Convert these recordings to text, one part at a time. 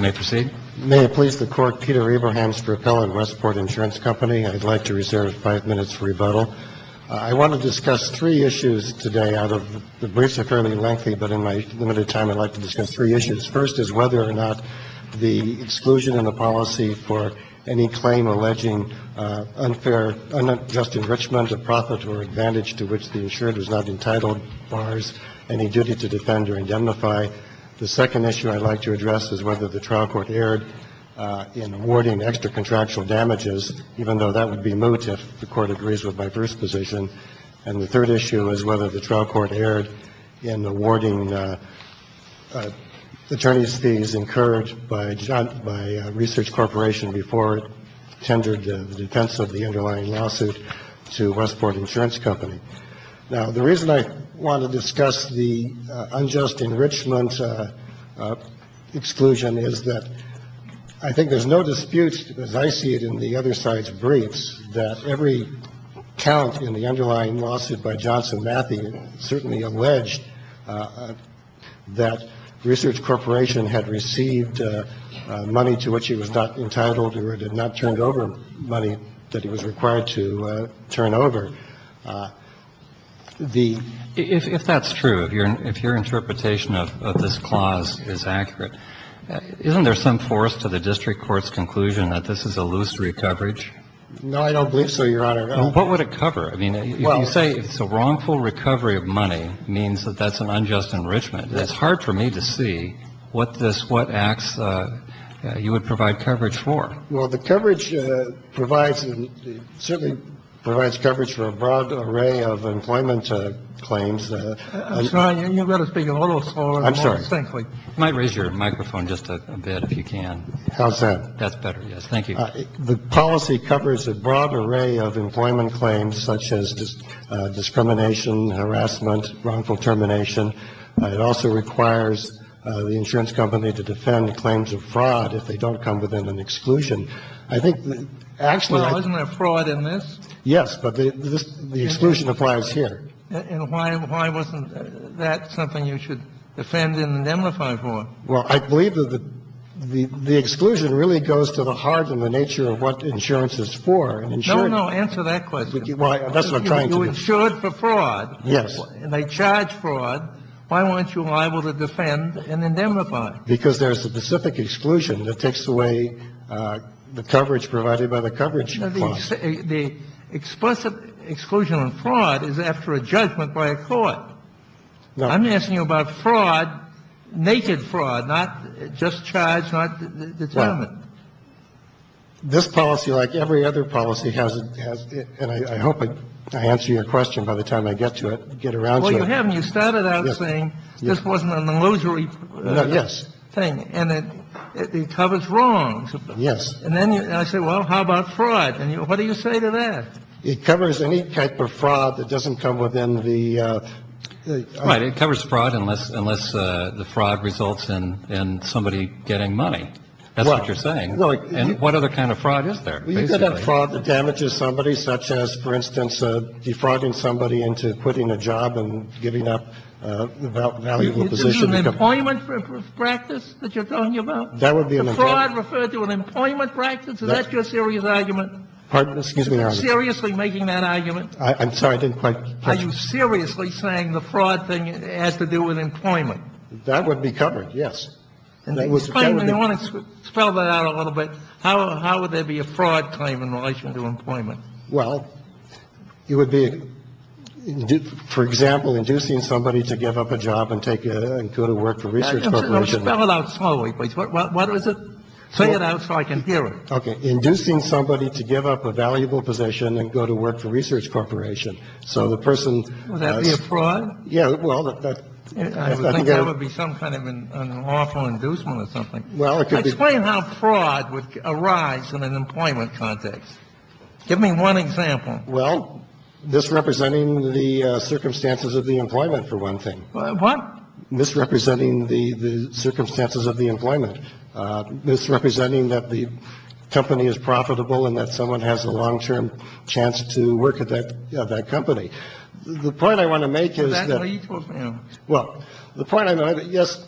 May I please the court, Peter Abrahams for Appellant Westport Insurance Company. I'd like to reserve five minutes for rebuttal. I want to discuss three issues today out of the briefs are fairly lengthy, but in my limited time I'd like to discuss three issues. First is whether or not the exclusion in the policy for any claim alleging unfair, unjust enrichment of profit or advantage to which the insured is not entitled. Fars any duty to defend or indemnify. The second issue I'd like to address is whether the trial court erred in awarding extra contractual damages, even though that would be moot if the court agrees with my first position. And the third issue is whether the trial court erred in awarding attorneys fees incurred by John by Research Corporation before it tendered the defense of the underlying lawsuit to Westport Insurance Company. Now, the reason I want to discuss the unjust enrichment exclusion is that I think there's no dispute, as I see it in the other side's briefs, that every count in the underlying lawsuit by Johnson Matthews certainly alleged that Research Corporation had received money to which he was not entitled. And I think that the trial court erred in awarding extra contractual damages. But the fact of the matter is that we're not talking about a case where the defendant had not turned over money that he was required to turn over. The ---- Kennedy. If that's true, if your interpretation of this clause is accurate, isn't there some force to the district court's conclusion that this is a loose recovery? No, I don't believe so, Your Honor. What would it cover? I mean, if you say it's a wrongful recovery of money, it means that that's an unjust enrichment. It's hard for me to see what this ---- what acts you would provide coverage for. Well, the coverage provides ---- certainly provides coverage for a broad array of employment claims. I'm sorry. You've got to speak a little smaller. I'm sorry. You might raise your microphone just a bit if you can. How's that? That's better, yes. Thank you. The policy covers a broad array of employment claims such as discrimination, harassment, wrongful termination. It also requires the insurance company to defend claims of fraud if they don't come within an exclusion. I think actually ---- Well, isn't there fraud in this? Yes, but the exclusion applies here. And why wasn't that something you should defend and indemnify for? Well, I believe that the exclusion really goes to the heart and the nature of what insurance is for. No, no. Answer that question. Well, that's what I'm trying to do. You insured for fraud. Yes. And they charge fraud. Why weren't you liable to defend and indemnify? Because there's a specific exclusion that takes away the coverage provided by the coverage clause. The explicit exclusion on fraud is after a judgment by a court. No. I'm asking you about fraud, naked fraud, not just charged, not determined. This policy, like every other policy, has ---- and I hope I answer your question by the time I get to it, get around to it. Well, you haven't. You started out saying this wasn't an illusory thing. No, yes. And it covers wrongs. Yes. And then I say, well, how about fraud? And what do you say to that? It covers any type of fraud that doesn't come within the ---- Right. It covers fraud unless the fraud results in somebody getting money. That's what you're saying. And what other kind of fraud is there, basically? Well, you could have fraud that damages somebody, such as, for instance, defrauding somebody into quitting a job and giving up a valuable position. Is it an employment practice that you're talking about? That would be an example. Fraud referred to an employment practice? Is that your serious argument? Excuse me, Your Honor. Are you seriously making that argument? I'm sorry. I didn't quite catch that. Are you seriously saying the fraud thing has to do with employment? That would be covered, yes. And that would be ---- I want to spell that out a little bit. How would there be a fraud claim in relation to employment? Well, it would be, for example, inducing somebody to give up a job and go to work for a research corporation. Spell it out slowly, please. What is it? Say it out so I can hear it. Inducing somebody to give up a valuable position and go to work for a research corporation. So the person ---- Would that be a fraud? Yeah. Well, that's ---- I think that would be some kind of an awful inducement or something. Well, it could be ---- Explain how fraud would arise in an employment context. Give me one example. Well, misrepresenting the circumstances of the employment, for one thing. What? Misrepresenting the circumstances of the employment. Misrepresenting that the company is profitable and that someone has a long-term chance to work at that company. The point I want to make is that ---- Is that lethal? Well, the point I'm making, yes.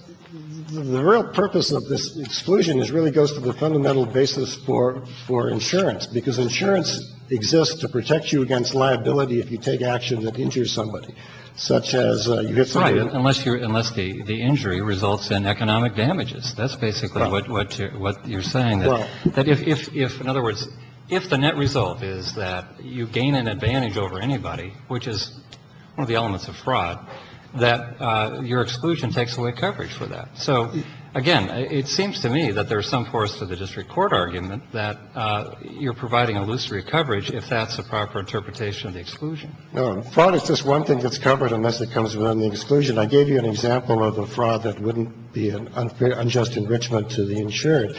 The real purpose of this exclusion really goes to the fundamental basis for insurance, because insurance exists to protect you against liability if you take action that injures somebody, such as ---- Right. Unless the injury results in economic damages. That's basically what you're saying. Well ---- That if, in other words, if the net result is that you gain an advantage over anybody, which is one of the elements of fraud, that your exclusion takes away coverage for that. So, again, it seems to me that there's some force to the district court argument that you're providing illusory coverage if that's a proper interpretation of the exclusion. No. Fraud is just one thing that's covered unless it comes within the exclusion. I gave you an example of a fraud that wouldn't be an unjust enrichment to the insured.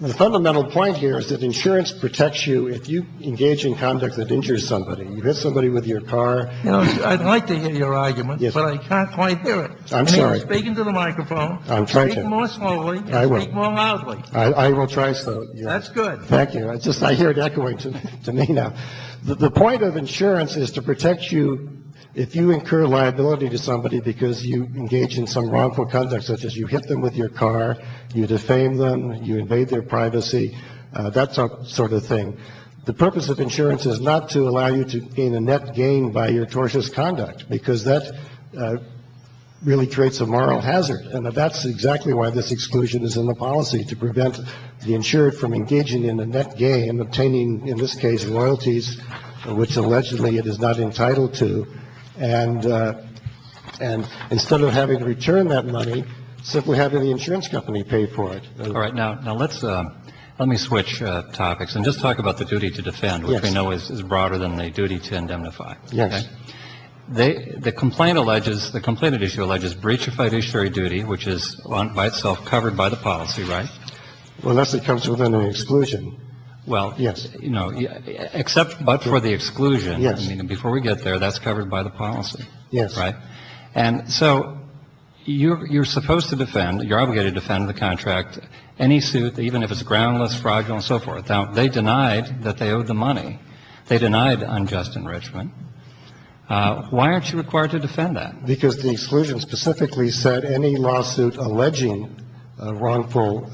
The fundamental point here is that insurance protects you if you engage in conduct that injures somebody. You hit somebody with your car ---- You know, I'd like to hear your argument, but I can't quite hear it. I'm sorry. I mean, you're speaking to the microphone. I'm trying to. Speak more slowly and speak more loudly. I will. I will try so. That's good. Thank you. I hear it echoing to me now. The point of insurance is to protect you if you incur liability to somebody because you engage in some wrongful conduct, such as you hit them with your car, you defame them, you invade their privacy, that sort of thing. The purpose of insurance is not to allow you to gain a net gain by your tortious conduct, because that really creates a moral hazard. And that's exactly why this exclusion is in the policy, to prevent the insured from engaging in a net gain, obtaining, in this case, loyalties which allegedly it is not entitled to, and instead of having to return that money, simply having the insurance company pay for it. All right. Now, let's ---- let me switch topics and just talk about the duty to defend, which we know is broader than the duty to indemnify. Yes. The complaint alleges ---- the complainant issue alleges breach of fiduciary duty, which is by itself covered by the policy, right? Well, unless it comes within the exclusion. Well, you know, except but for the exclusion. Yes. Now, this is a case where we have to defend it, which is a case where we have to defend it, and I'm not saying before we get there that's covered by the policy. Yes. Right? And so you're supposed to defend, you're obligated to defend the contract, any suit, even if it's groundless, fraudulent, and so forth. Now, they denied that they owed the money. They denied unjust enrichment. Why aren't you required to defend that? Because the exclusion specifically said any lawsuit alleging wrongful,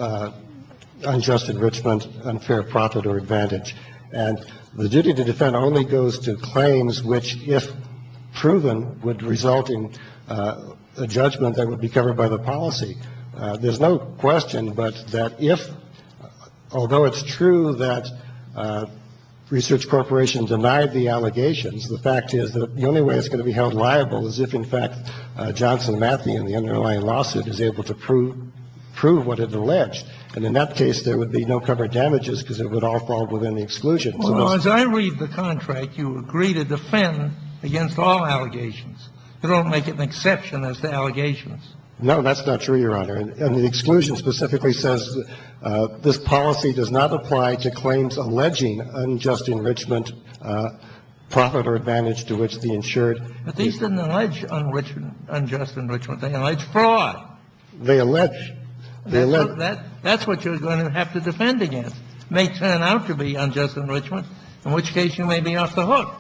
unjust enrichment, unfair profit or advantage. And the duty to defend only goes to claims which, if proven, would result in a judgment that would be covered by the policy. There's no question but that if, although it's true that Research Corporation denied the allegations, the fact is that the only way it's going to be held liable is if, in fact, Johnson Matthey and the underlying lawsuit is able to prove what it alleged. And in that case, there would be no covered damages because it would all fall within the exclusion. Well, as I read the contract, you agree to defend against all allegations. You don't make it an exception as to allegations. No, that's not true, Your Honor. And the exclusion specifically says this policy does not apply to claims alleging unjust enrichment, profit or advantage to which the insured. But these didn't allege unjust enrichment. They allege fraud. They allege. That's what you're going to have to defend against. It may turn out to be unjust enrichment, in which case you may be off the hook.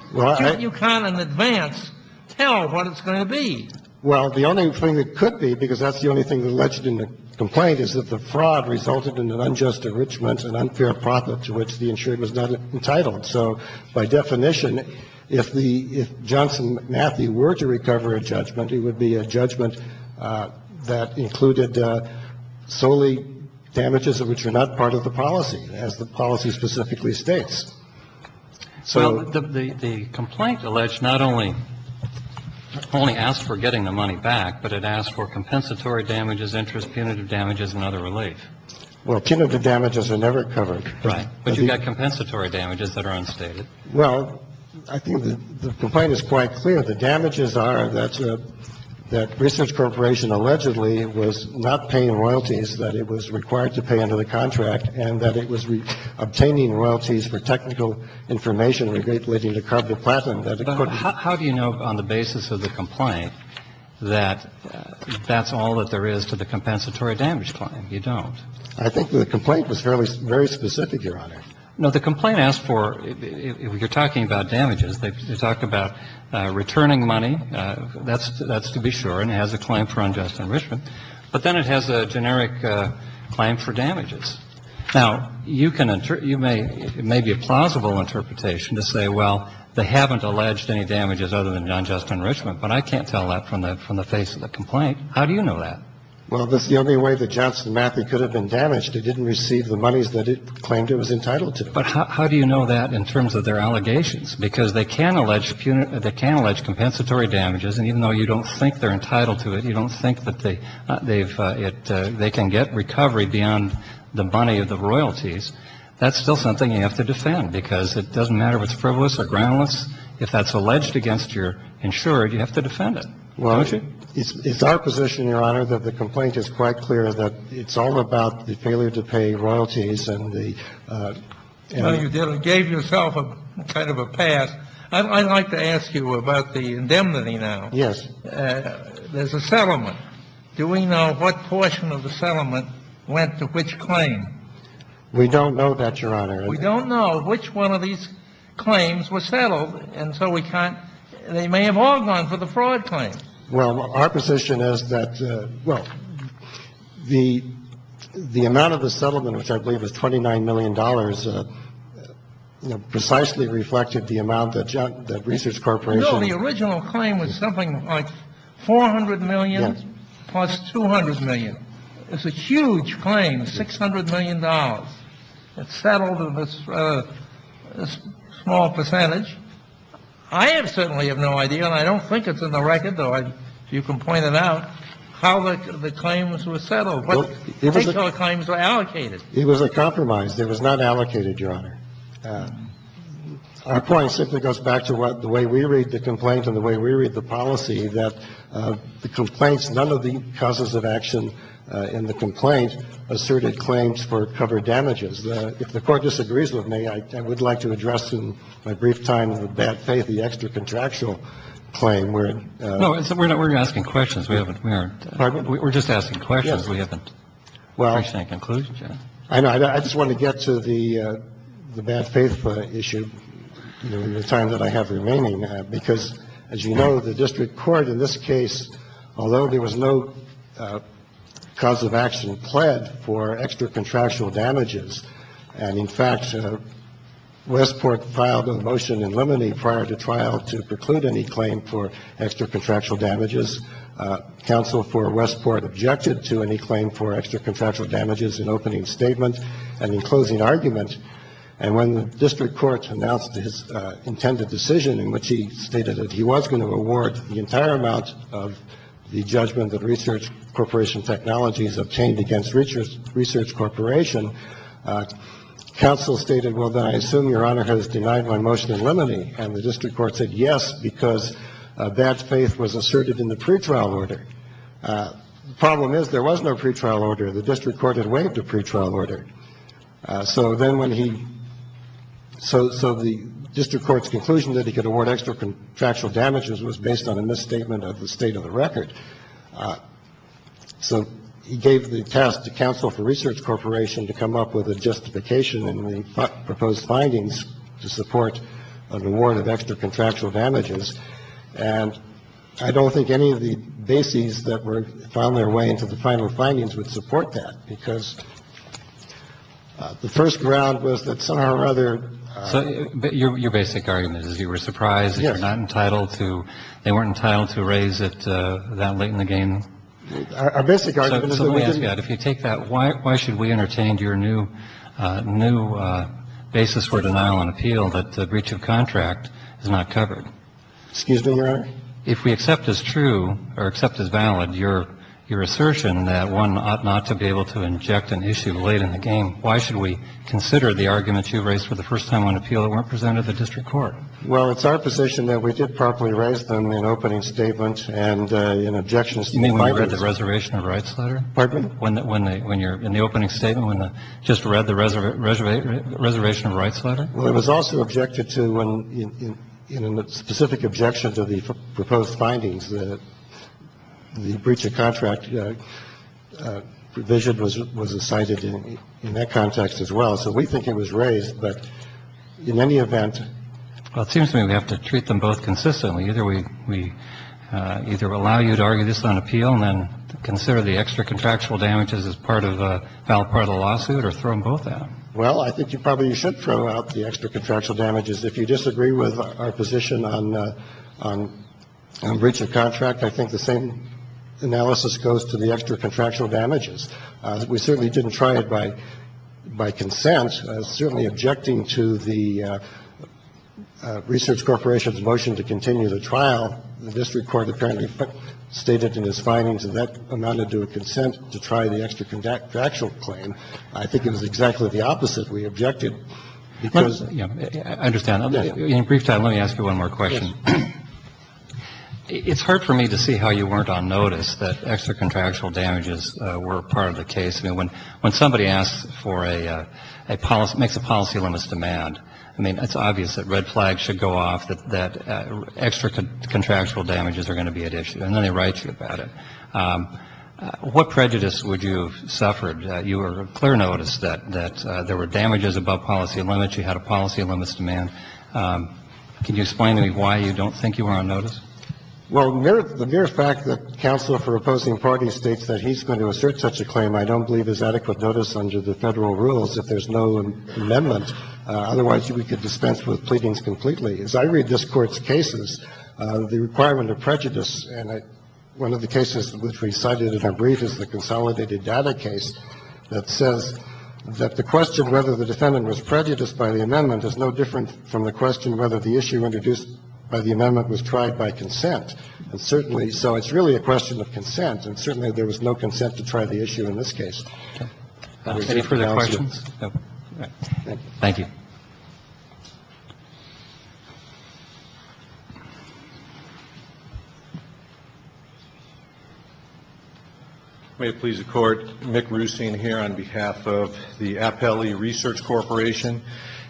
You can't in advance tell what it's going to be. Well, the only thing that could be, because that's the only thing alleged in the complaint, is that the fraud resulted in an unjust enrichment, an unfair profit to which the insured was not entitled. So by definition, if the – if Johnson Matthey were to recover a judgment, it would be a judgment that included solely damages of which are not part of the policy, as the policy specifically states. So the complaint alleged not only – not only asked for getting the money back, but it asked for compensatory damages, interest, punitive damages and other relief. Well, punitive damages are never covered. Right. But you've got compensatory damages that are unstated. Well, I think the complaint is quite clear. The damages are that Research Corporation allegedly was not paying royalties that it was required to pay under the contract and that it was obtaining royalties for technical information relating to carboplatinum that it couldn't. Now, how do you know on the basis of the complaint that that's all that there is to the compensatory damage claim? You don't. I think the complaint was fairly – very specific, Your Honor. No. The complaint asked for – you're talking about damages. They talk about returning money. That's to be sure, and it has a claim for unjust enrichment. But then it has a generic claim for damages. Now, you can – you may – it may be a plausible interpretation to say, well, they haven't alleged any damages other than unjust enrichment, but I can't tell that from the face of the complaint. How do you know that? Well, that's the only way that Johnson Matthey could have been damaged. It didn't receive the monies that it claimed it was entitled to. But how do you know that in terms of their allegations? Because they can allege – they can allege compensatory damages, and even though you don't think they're entitled to it, you don't think that they've – they can get recovery beyond the money of the royalties, That's still something you have to defend, because it doesn't matter if it's frivolous or groundless. If that's alleged against your insurer, you have to defend it, don't you? Well, it's our position, Your Honor, that the complaint is quite clear that it's all about the failure to pay royalties and the – Well, you gave yourself a kind of a pass. I'd like to ask you about the indemnity now. Yes. There's a settlement. Do we know what portion of the settlement went to which claim? We don't know that, Your Honor. We don't know which one of these claims was settled, and so we can't – they may have all gone for the fraud claim. Well, our position is that – well, the amount of the settlement, which I believe was $29 million, precisely reflected the amount that Research Corporation – No, the original claim was something like $400 million plus $200 million. It's a huge claim, $600 million. It's settled in this small percentage. I certainly have no idea, and I don't think it's in the record, though, if you can point it out, how the claims were settled, what kind of claims were allocated. It was a compromise. It was not allocated, Your Honor. Our point simply goes back to the way we read the complaint and the way we read the policy, that the complaints – none of the causes of action in the complaint asserted claims for cover damages. If the Court disagrees with me, I would like to address in my brief time on the bad faith the extra contractual claim where – No, we're not – we're asking questions. We haven't – we aren't – Pardon me? We're just asking questions. We haven't reached any conclusions yet. Well, I know. I just wanted to get to the bad faith issue in the time that I have remaining, because, as you know, the district court in this case, although there was no cause of action pled for extra contractual damages, and, in fact, Westport filed a motion in limine prior to trial to preclude any claim for extra contractual damages, counsel for Westport objected to any claim for extra contractual damages in opening statement and in closing argument. And when the district court announced his intended decision, in which he stated that he was going to award the entire amount of the judgment that Research Corporation Technologies obtained against Research Corporation, counsel stated, well, then I assume Your Honor has denied my motion in limine. And the district court said yes, because that faith was asserted in the pretrial order. The problem is there was no pretrial order. The district court had waived a pretrial order. So then when he so so the district court's conclusion that he could award extra contractual damages was based on a misstatement of the state of the record. So he gave the task to counsel for Research Corporation to come up with a justification and propose findings to support an award of extra contractual damages. And I don't think any of the bases that were found their way into the final findings would support that, because the first ground was that somehow or other. So your basic argument is you were surprised that you're not entitled to they weren't entitled to raise it that late in the game. Our basic argument is that we didn't. So let me ask you that. If you take that, why should we entertain your new new basis for denial and appeal that the breach of contract is not covered? Excuse me, Your Honor? If we accept as true or accept as valid your your assertion that one ought not to be able to inject an issue late in the game, why should we consider the arguments you've raised for the first time on appeal that weren't presented at the district court? Well, it's our position that we did properly raise them in opening statements and in objections to the findings. You mean when you read the reservation of rights letter? Pardon me? When you're in the opening statement, when you just read the reservation of rights letter? Well, it was also objected to in a specific objection to the proposed findings that the breach of contract provision was cited in that context as well. So we think it was raised, but in any event. Well, it seems to me we have to treat them both consistently. Either we either allow you to argue this on appeal and then consider the extra contractual damages as part of a valid part of the lawsuit or throw them both out. Well, I think you probably should throw out the extra contractual damages. If you disagree with our position on breach of contract, I think the same analysis goes to the extra contractual damages. We certainly didn't try it by consent. Certainly objecting to the research corporation's motion to continue the trial, the district court apparently stated in its findings that that amounted to a consent to try the extra contractual claim. I think it was exactly the opposite. We objected because of that. I understand. In brief time, let me ask you one more question. Yes. It's hard for me to see how you weren't on notice that extra contractual damages were part of the case. I mean, when somebody asks for a policy, makes a policy limits demand, I mean, it's clear that there were damages above policy limits. You had a policy limits demand. Can you explain to me why you don't think you were on notice? Well, the mere fact that counsel for opposing parties states that he's going to assert such a claim I don't believe is adequate notice under the Federal rules if there's no amendment. Otherwise, we could dispense with pleadings completely. I think the question of consent was really a question of consent. And the reason we are using the word consent is that it doesn't require any prejudice. And one of the cases which we cited in a brief is the consolidated data case that says that the question whether the defendant was prejudiced by the amendment is no different from the question whether the issue introduced by the amendment was tried by consent. And certainly so it's really a question of consent. And certainly there was no consent to try the issue in this case. Any further questions? No. Thank you. May it please the Court. Mick Ruesing here on behalf of the Appellee Research Corporation.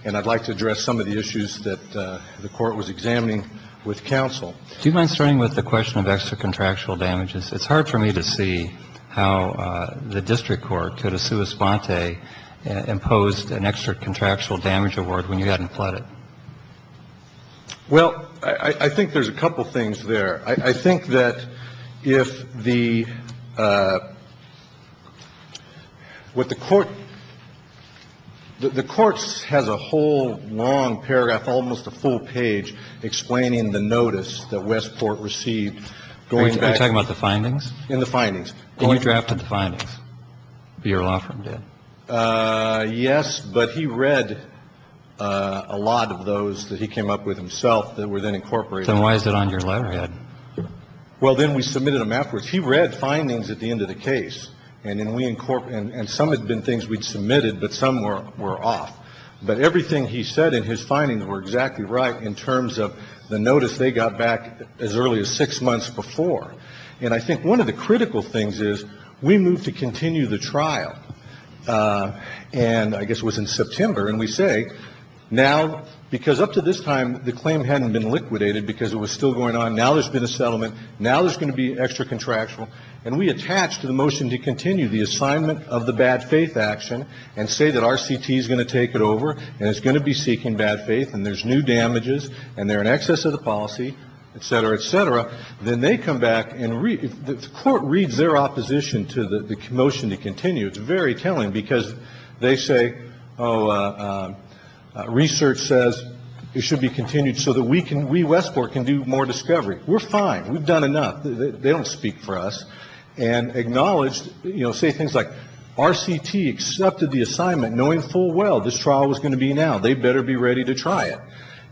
And I'd like to address some of the issues that the Court was examining with counsel. Do you mind starting with the question of extra contractual damages? It's hard for me to see how the district court could have sua sponte imposed an extra contractual damage award when you hadn't pled it. Well, I think there's a couple of things there. I think that if the what the Court the Court has a whole long paragraph, almost a full page explaining the notice that Westport received going back. And that's the one I'm talking about. I think that's a good question. Can you talk about the findings? In the findings. Can you talk about the findings? Yes. But he read a lot of those that he came up with himself that were then incorporated. And why is it on your letterhead? Well, then we submitted a map where he read findings at the end of the case. And some had been things we'd submitted, but some were off. But everything he said in his findings were exactly right in terms of the notice they got back as early as six months before. And I think one of the critical things is we moved to continue the trial. And I guess it was in September. And we say now because up to this time, the claim hadn't been liquidated because it was still going on. Now there's been a settlement. Now there's going to be extra contractual. And we attach to the motion to continue the assignment of the bad faith action and say that R.C.T. is going to take it over. And it's going to be seeking bad faith. And there's new damages. And they're in excess of the policy, et cetera, et cetera. Then they come back and the court reads their opposition to the motion to continue. It's very telling because they say, oh, research says it should be continued so that we can we Westport can do more discovery. We're fine. We've done enough. They don't speak for us and acknowledged, you know, say things like R.C.T. accepted the assignment knowing full well this trial was going to be now. They better be ready to try it.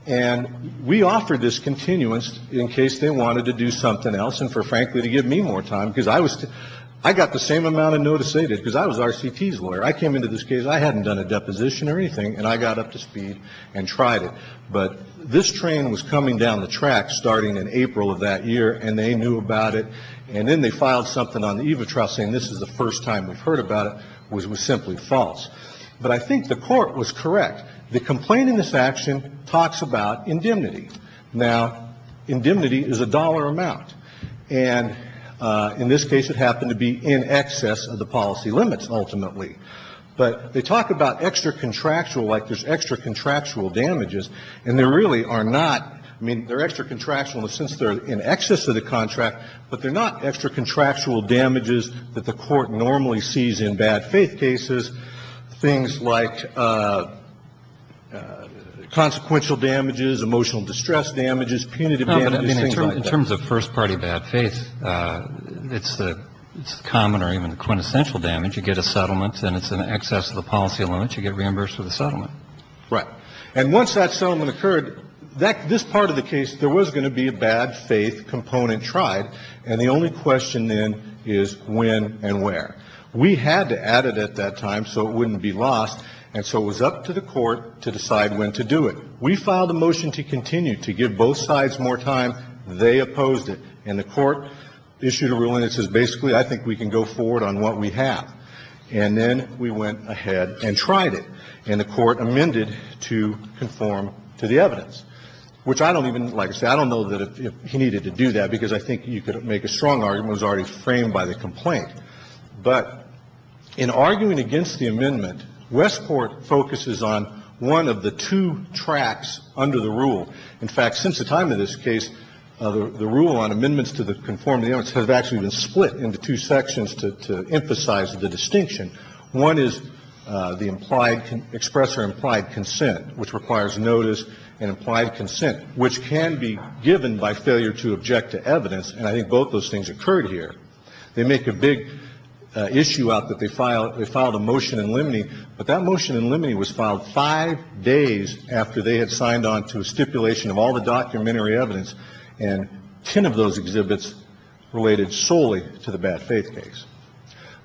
And we offered this continuance in case they wanted to do something else and for frankly to give me more time because I was I got the same amount of notice they did because I was R.C.T.'s lawyer. I came into this case. I hadn't done a deposition or anything. And I got up to speed and tried it. But this train was coming down the track starting in April of that year. And they knew about it. And then they filed something on the EVA trial saying this is the first time we've heard about it, which was simply false. But I think the court was correct. The complaint in this action talks about indemnity. Now, indemnity is a dollar amount. And in this case, it happened to be in excess of the policy limits ultimately. But they talk about extra-contractual like there's extra-contractual damages. And there really are not. I mean, they're extra-contractual since they're in excess of the contract, but they're not extra-contractual damages that the Court normally sees in bad faith cases, things like consequential damages, emotional distress damages, punitive damages, things like that. In terms of first-party bad faith, it's common or even quintessential damage. You get a settlement and it's in excess of the policy limits. You get reimbursed for the settlement. Right. And once that settlement occurred, this part of the case, there was going to be a bad faith component tried. And the only question then is when and where. We had to add it at that time so it wouldn't be lost. And so it was up to the Court to decide when to do it. We filed a motion to continue, to give both sides more time. They opposed it. And the Court issued a ruling that says basically I think we can go forward on what we have. And then we went ahead and tried it. And the Court amended to conform to the evidence, which I don't even, like I said, I don't know that he needed to do that because I think you could make a strong argument that was already framed by the complaint. But in arguing against the amendment, Westport focuses on one of the two tracks under the rule. In fact, since the time of this case, the rule on amendments to conform to the evidence has actually been split into two sections to emphasize the distinction. One is the implied express or implied consent, which requires notice and implied consent, which can be given by failure to object to evidence. And I think both those things occurred here. They make a big issue out that they filed a motion in limine, but that motion in limine was filed five days after they had signed on to a stipulation of all the documentary evidence and ten of those exhibits related solely to the bad faith case.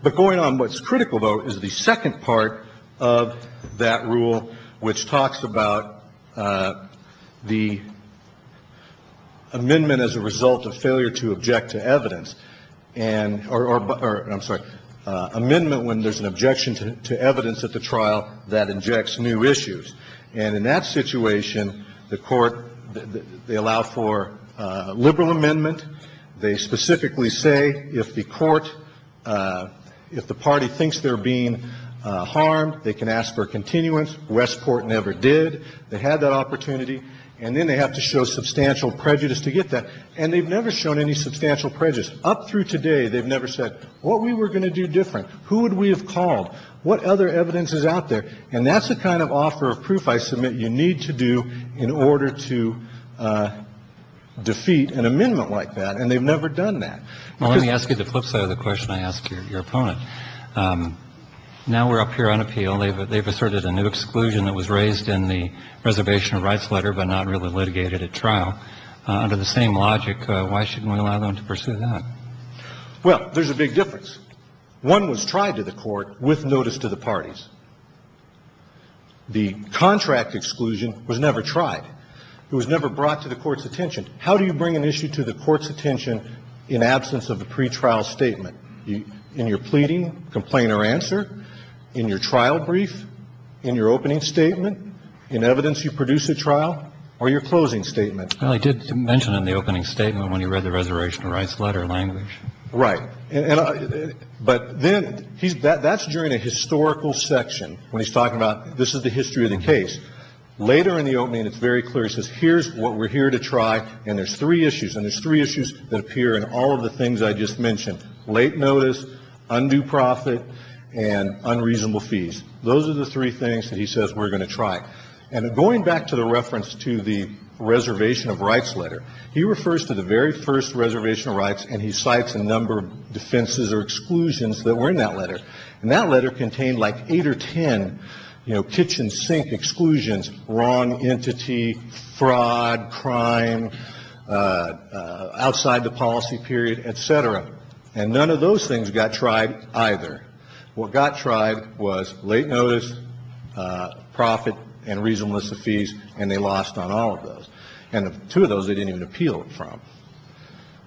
But going on, what's critical, though, is the second part of that rule, which talks about the amendment as a result of failure to object to evidence and or I'm sorry, failure to object to evidence. And in that case, Westport has to show substantial prejudice to get that amendment when there's an objection to evidence at the trial that injects new issues. And in that situation, the Court, they allow for a liberal amendment. They specifically say if the Court, if the party thinks they're being harmed, they can ask for a continuance. If the Court has decided to do that, they have to make a decision. Why would they allow for a continuous amendment when there's a concern of evidence that's different? Who would we have called? What other evidence is out there? And that's the kind of offer of proof I submit you need to do in order to defeat an amendment like that. And they've never done that. Well, let me ask you the flipside of the question I asked your opponent. Now we're up here on appeal. They've asserted a new exclusion that was raised in the reservation of rights letter but not really litigated at trial. Under the same logic, why shouldn't we allow them to pursue that? Well, there's a big difference. One was tried to the Court with notice to the parties. The contract exclusion was never tried. It was never brought to the Court's attention. How do you bring an issue to the Court's attention in absence of a pretrial statement? In your pleading, complaint or answer? In your trial brief? In your opening statement? In evidence you produce at trial? Or your closing statement? Well, he did mention in the opening statement when he read the reservation of rights letter language. Right. But then that's during a historical section when he's talking about this is the history of the case. Later in the opening, it's very clear. He says here's what we're here to try, and there's three issues. And there's three issues that appear in all of the things I just mentioned. Late notice, undue profit, and unreasonable fees. Those are the three things that he says we're going to try. And going back to the reference to the reservation of rights letter, he refers to the very first reservation of rights, and he cites a number of defenses or exclusions that were in that letter. And that letter contained like eight or ten, you know, kitchen sink exclusions, wrong outside the policy period, et cetera. And none of those things got tried either. What got tried was late notice, profit, and reasonableness of fees, and they lost on all of those. And two of those they didn't even appeal from.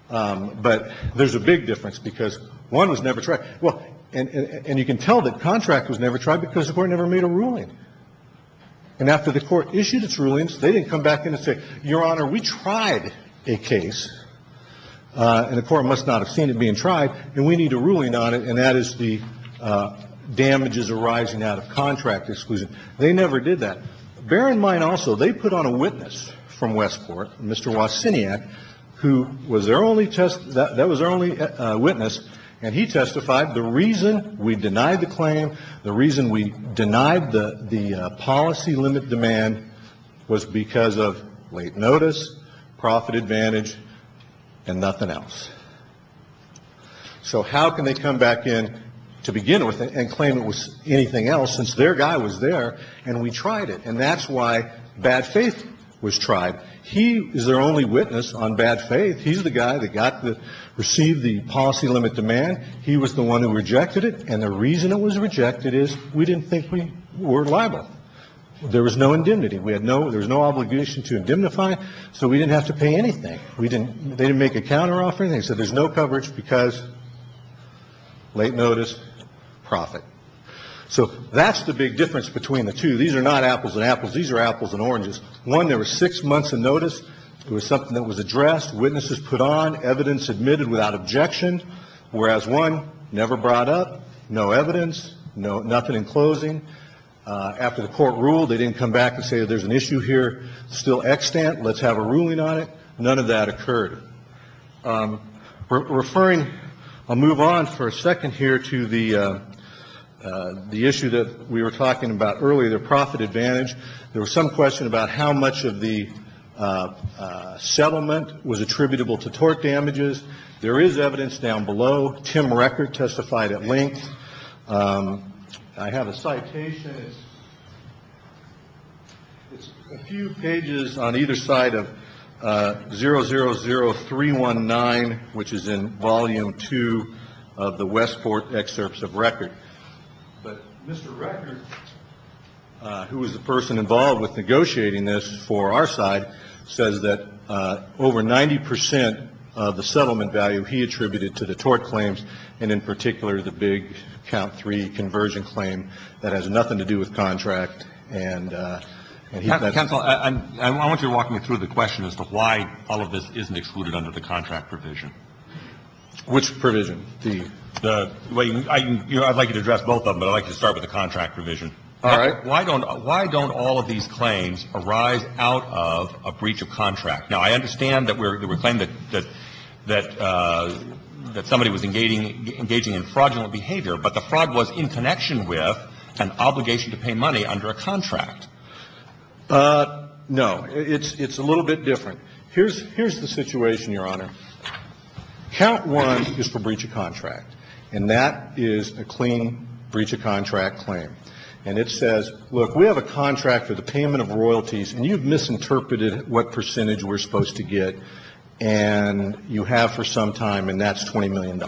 But there's a big difference because one was never tried. Well, and you can tell that contract was never tried because the Court never made a ruling. And after the Court issued its rulings, they didn't come back in and say, Your Honor, we And the Court must not have seen it being tried, and we need a ruling on it, and that is the damages arising out of contract exclusion. They never did that. Bear in mind also they put on a witness from Westport, Mr. Wasiniak, who was their only witness, and he testified the reason we denied the claim, the reason we denied the policy limit demand was because of late notice, profit advantage, and nothing else. So how can they come back in to begin with and claim it was anything else since their guy was there and we tried it? And that's why bad faith was tried. He is their only witness on bad faith. He's the guy that got the – received the policy limit demand. He was the one who rejected it, and the reason it was rejected is we didn't think we were liable. There was no indemnity. We had no – there was no obligation to indemnify, so we didn't have to pay anything. We didn't – they didn't make a counteroffer. They said there's no coverage because late notice, profit. So that's the big difference between the two. These are not apples and apples. These are apples and oranges. One, there were six months of notice. It was something that was addressed, witnesses put on, evidence admitted without objection, whereas one never brought up, no evidence, nothing in closing. After the court ruled, they didn't come back and say there's an issue here, still extant, let's have a ruling on it. None of that occurred. Referring – I'll move on for a second here to the issue that we were talking about earlier, the profit advantage. There was some question about how much of the settlement was attributable to tort damages. There is evidence down below. Tim Record testified at length. I have a citation. It's a few pages on either side of 000319, which is in Volume 2 of the Westport Excerpts of Record. But Mr. Record, who was the person involved with negotiating this for our side, says that over 90 percent of the settlement value he attributed to the tort claims, and in particular the big count three conversion claim, that has nothing to do with contract. And he said – Counsel, I want you to walk me through the question as to why all of this isn't excluded under the contract provision. Which provision? The – I'd like you to address both of them, but I'd like you to start with the contract provision. All right. Why don't all of these claims arise out of a breach of contract? Now, I understand that we're claiming that somebody was engaging in fraudulent behavior, but the fraud was in connection with an obligation to pay money under a contract. No. It's a little bit different. Here's the situation, Your Honor. Count one is for breach of contract, and that is a clean breach of contract claim. And it says, look, we have a contract for the payment of royalties, and you've misinterpreted what percentage we're supposed to get. And you have for some time, and that's $20 million.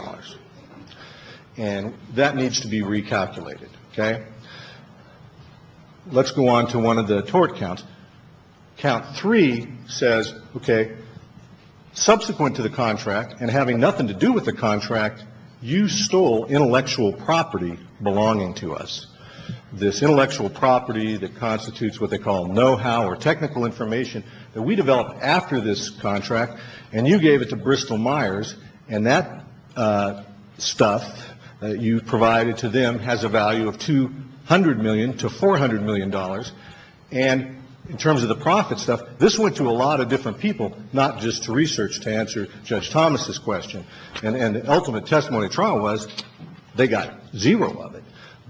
And that needs to be recalculated. Okay? Let's go on to one of the tort counts. Count three says, okay, subsequent to the contract and having nothing to do with the contract, you stole intellectual property belonging to us. This intellectual property that constitutes what they call know-how or technical information that we developed after this contract, and you gave it to Bristol Myers, and that stuff that you provided to them has a value of $200 million to $400 million. And in terms of the profit stuff, this went to a lot of different people, not just to research to answer Judge Thomas's question. And the ultimate testimony of trial was they got zero of it.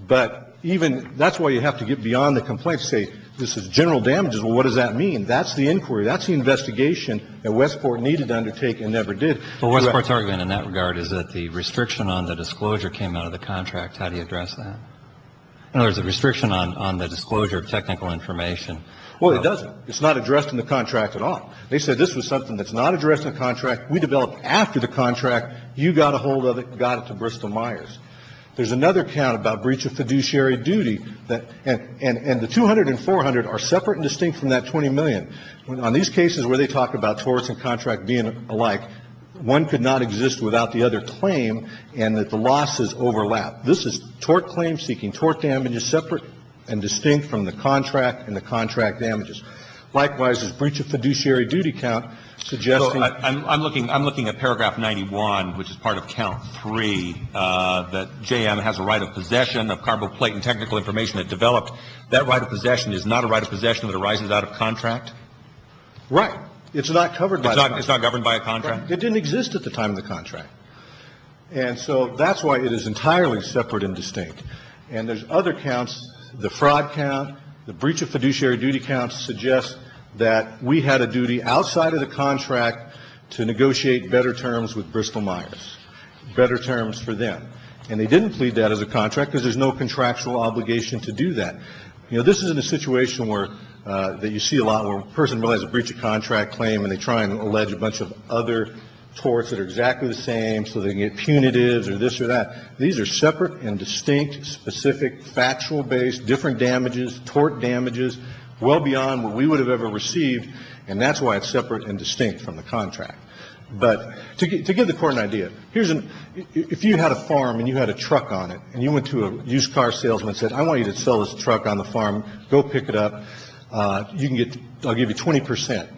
But even that's why you have to get beyond the complaint to say this is general damages. Well, what does that mean? That's the inquiry. That's the investigation that Westport needed to undertake and never did. Well, Westport's argument in that regard is that the restriction on the disclosure came out of the contract. How do you address that? In other words, the restriction on the disclosure of technical information. Well, it doesn't. It's not addressed in the contract at all. They said this was something that's not addressed in the contract. We developed after the contract. You got a hold of it and got it to Bristol Myers. There's another count about breach of fiduciary duty. And the $200 and $400 are separate and distinct from that $20 million. On these cases where they talk about torts and contract being alike, one could not exist without the other claim and that the losses overlap. This is tort claim-seeking. Tort damage is separate and distinct from the contract and the contract damages. I'm looking at paragraph 91, which is part of count 3, that JM has a right of possession of carboplate and technical information that developed. That right of possession is not a right of possession that arises out of contract? Right. It's not covered by a contract. It's not governed by a contract. It didn't exist at the time of the contract. And so that's why it is entirely separate and distinct. And there's other counts. The fraud count, the breach of fiduciary duty count suggests that we had a duty outside of the contract to negotiate better terms with Bristol Myers, better terms for them. And they didn't plead that as a contract because there's no contractual obligation to do that. You know, this is in a situation where, that you see a lot where a person realizes a breach of contract claim and they try and allege a bunch of other torts that are exactly the same so they can get punitives or this or that. These are separate and distinct, specific, factual-based, different damages, tort damages, well beyond what we would have ever received. And that's why it's separate and distinct from the contract. But to give the Court an idea, here's an, if you had a farm and you had a truck on it and you went to a used car salesman and said, I want you to sell this truck on the farm, go pick it up, you can get, I'll give you 20 percent.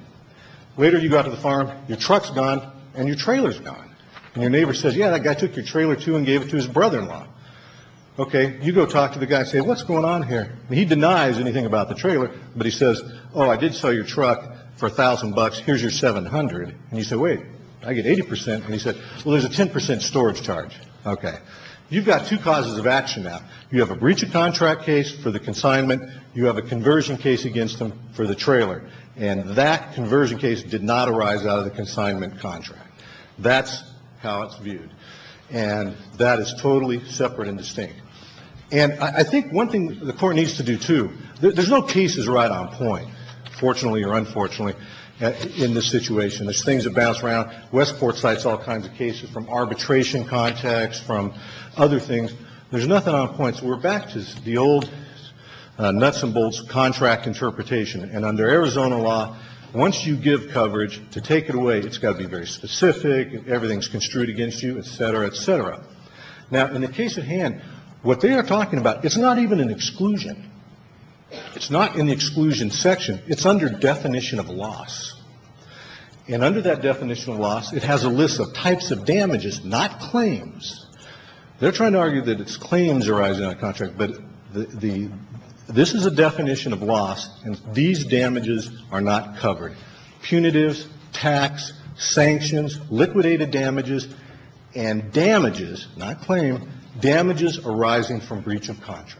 Later you go out to the farm, your truck's gone and your trailer's gone. And your neighbor says, yeah, that guy took your trailer too and gave it to his brother-in-law. Okay. You go talk to the guy and say, what's going on here? He denies anything about the trailer, but he says, oh, I did sell your truck for a thousand bucks. Here's your 700. And you say, wait, I get 80 percent. And he said, well, there's a 10 percent storage charge. Okay. You've got two causes of action now. You have a breach of contract case for the consignment. You have a conversion case against them for the trailer. And that conversion case did not arise out of the consignment contract. That's how it's viewed. And that is totally separate and distinct. And I think one thing the Court needs to do, too, there's no cases right on point, fortunately or unfortunately, in this situation. There's things that bounce around. Westport cites all kinds of cases from arbitration context, from other things. There's nothing on point. So we're back to the old nuts and bolts contract interpretation. And under Arizona law, once you give coverage, to take it away, it's got to be very specific, everything's construed against you, et cetera, et cetera. Now, in the case at hand, what they are talking about, it's not even an exclusion. It's not in the exclusion section. It's under definition of loss. And under that definition of loss, it has a list of types of damages, not claims. They're trying to argue that it's claims arising out of contract. But this is a definition of loss. And these damages are not covered. Punitives, tax, sanctions, liquidated damages, and damages, not claim, damages arising from breach of contract.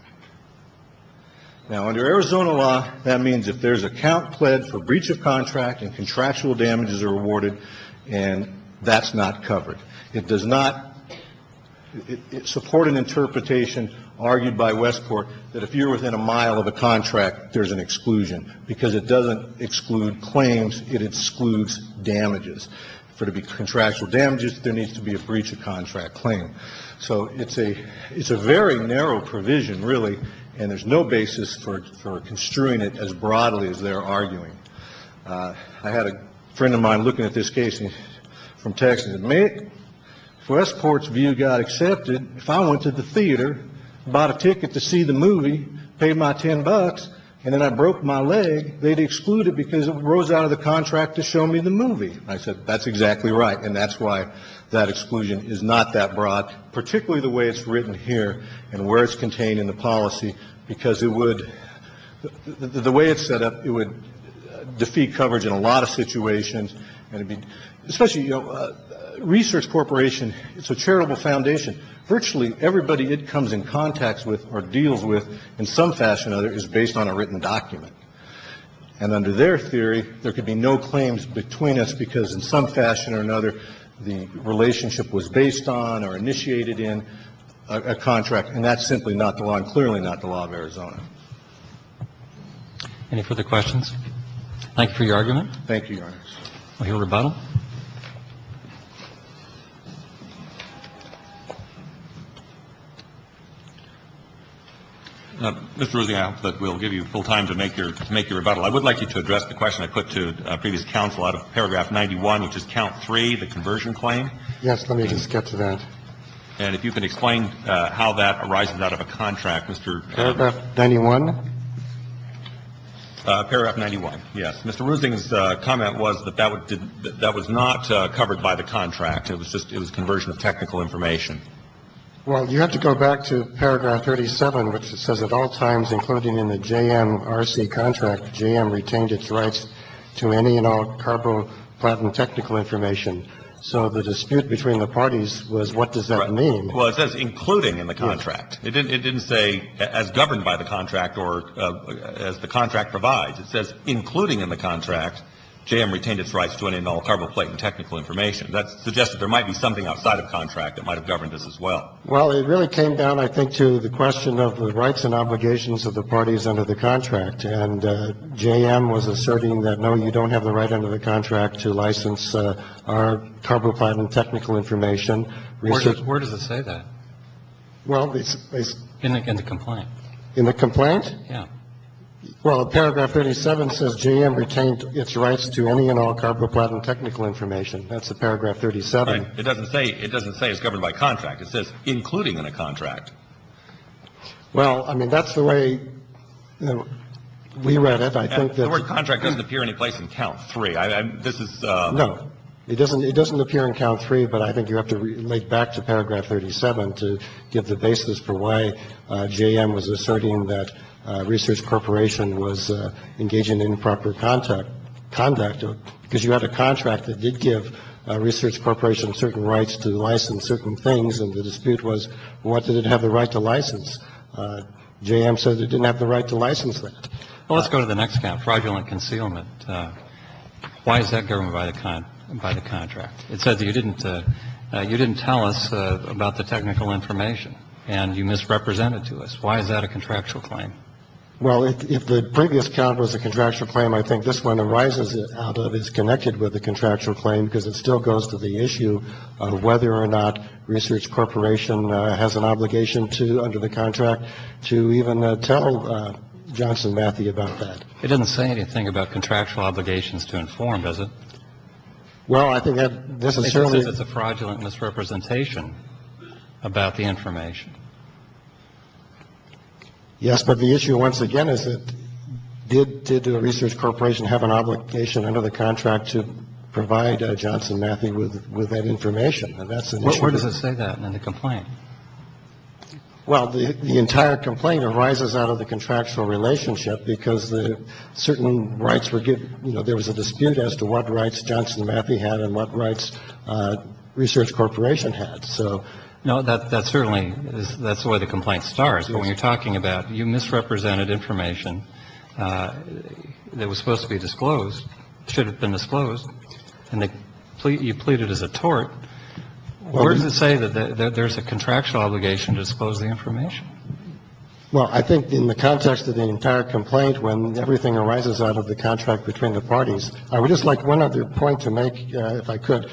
Now, under Arizona law, that means if there's account pled for breach of contract and contractual damages are awarded, and that's not covered. It does not support an interpretation argued by Westport that if you're within a mile of a contract, there's an exclusion, because it doesn't exclude claims. It excludes damages. For it to be contractual damages, there needs to be a breach of contract claim. So it's a very narrow provision, really, and there's no basis for construing it as broadly as they're arguing. I had a friend of mine looking at this case from Texas. He said, Mick, Westport's view got accepted. If I went to the theater, bought a ticket to see the movie, paid my 10 bucks, and then I broke my leg, they'd exclude it because it rose out of the contract to show me the movie. I said, that's exactly right, and that's why that exclusion is not that broad, particularly the way it's written here and where it's contained in the policy, because it would, the way it's set up, it would defeat coverage in a lot of situations, and it would And I think that's why it's so important. I think, especially, you know, Research Corporation, it's a charitable foundation. Virtually everybody it comes in contact with or deals with in some fashion or another is based on a written document. And under their theory, there could be no claims between us because in some fashion or another, the relationship was based on or initiated in a contract, and that's simply not the law and clearly not the law of Arizona. Any further questions? Thank you for your argument. Thank you, Your Honor. Any rebuttal? Mr. Ruesing, I hope that we'll give you full time to make your rebuttal. I would like you to address the question I put to previous counsel out of paragraph 91, which is count three, the conversion claim. Yes. Let me just get to that. And if you can explain how that arises out of a contract, Mr. Ruesing. Paragraph 91? Paragraph 91. Yes. That was not covered by the contract. It was just a conversion of technical information. Well, you have to go back to paragraph 37, which says, At all times, including in the JMRC contract, JM retained its rights to any and all carbo-platinum technical information. So the dispute between the parties was what does that mean? Well, it says including in the contract. It didn't say as governed by the contract or as the contract provides. It says including in the contract, JM retained its rights to any and all carbo-platinum technical information. That suggests that there might be something outside of contract that might have governed this as well. Well, it really came down, I think, to the question of the rights and obligations of the parties under the contract. And JM was asserting that, no, you don't have the right under the contract to license our carbo-platinum technical information. Where does it say that? In the complaint. In the complaint? Yes. Well, paragraph 37 says JM retained its rights to any and all carbo-platinum technical information. That's the paragraph 37. Right. It doesn't say it's governed by contract. It says including in a contract. Well, I mean, that's the way we read it. I think that the word contract doesn't appear any place in count three. This is no, it doesn't. It doesn't appear in count three. But I think you have to relate back to paragraph 37 to give the basis for why JM was asserting that Research Corporation was engaging in improper contact conduct, because you had a contract that did give Research Corporation certain rights to license certain things. And the dispute was, what did it have the right to license? JM said it didn't have the right to license that. Well, let's go to the next count, fraudulent concealment. Why is that governed by the contract? It says you didn't tell us about the technical information and you misrepresented to us. Why is that a contractual claim? Well, if the previous count was a contractual claim, I think this one arises out of, is connected with the contractual claim, because it still goes to the issue of whether or not Research Corporation has an obligation to, under the contract, to even tell Johnson Matthey about that. It doesn't say anything about contractual obligations to inform, does it? Well, I think that this is certainly the fraudulent misrepresentation about the information. Yes, but the issue, once again, is that did the Research Corporation have an obligation under the contract to provide Johnson Matthey with that information? And that's an issue. Where does it say that in the complaint? Well, the entire complaint arises out of the contractual relationship, because certain rights were given. You know, there was a dispute as to what rights Johnson Matthey had and what rights Research Corporation had. So, you know, that certainly is where the complaint starts. But when you're talking about you misrepresented information that was supposed to be disclosed, should have been disclosed, and you plead it as a tort, where does it say that there's a contractual obligation to disclose the information? Well, I think in the context of the entire complaint, when everything arises out of the contract between the parties, I would just like one other point to make, if I could.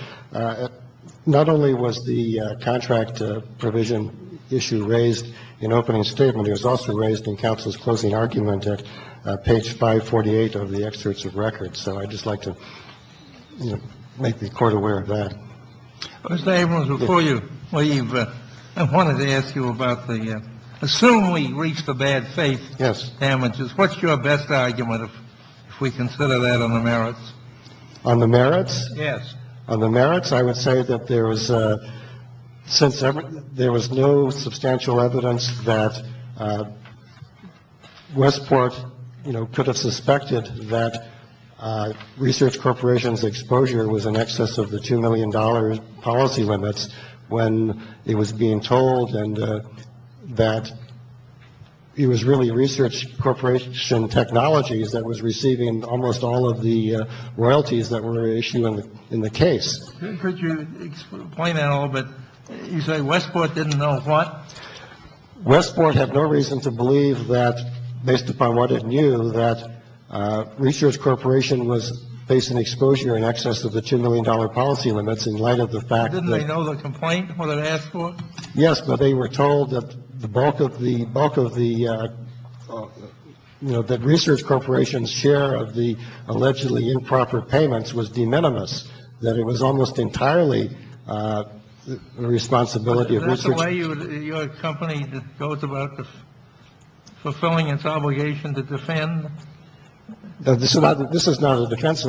Not only was the contract provision issue raised in opening statement, it was also raised in counsel's closing argument at page 548 of the excerpts of records. So I'd just like to make the Court aware of that. Mr. Abrams, before you leave, I wanted to ask you about the assume we reached the bad faith damages. Yes. What's your best argument if we consider that on the merits? On the merits? Yes. On the merits, I would say that there was since there was no substantial evidence that Westport, you know, could have suspected that Research Corporation's exposure was in excess of the two million dollar policy limits when it was being told and that it was really Research Corporation Technologies that was receiving almost all of the royalties that were issued in the case. Could you explain that a little bit? You say Westport didn't know what? Westport had no reason to believe that, based upon what it knew, that Research Corporation was facing exposure in excess of the two million dollar policy limits in light of the fact that it was being told and that it was really Research Corporation Technologies that was receiving almost all of the royalties that were issued in the case. Does anybody know the complaint, what it asked for? Yes. But they were told that the bulk of the bulk of the, you know, that Research Corporation's share of the allegedly improper payments was de minimis, that it was almost entirely the responsibility of research. Is that the way your company goes about fulfilling its obligation to defend? This is not a defense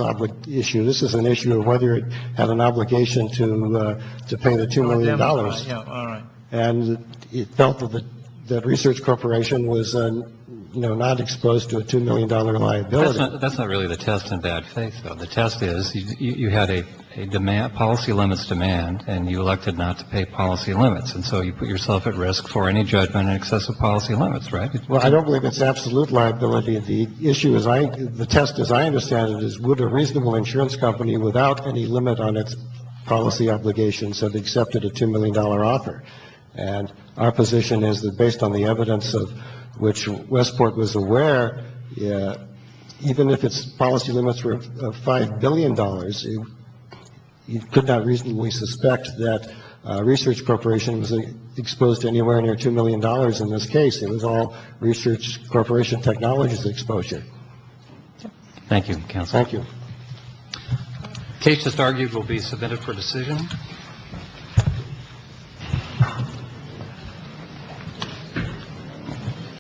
issue. This is an issue of whether it had an obligation to pay the two million dollars. All right. And it felt that Research Corporation was not exposed to a two million dollar liability. That's not really the test in bad faith, though. The test is you had a demand policy limits demand and you elected not to pay policy limits. And so you put yourself at risk for any judgment in excess of policy limits. Right. Well, I don't believe it's absolute liability. The issue is I the test, as I understand it, is would a reasonable insurance company without any limit on its policy obligations have accepted a two million dollar offer. Our position is that based on the evidence of which Westport was aware, even if its policy limits were five billion dollars, you could not reasonably suspect that Research Corporation was exposed to anywhere near two million dollars. In this case, it was all Research Corporation Technologies exposure. Thank you. Thank you. Cases argued will be submitted for decision.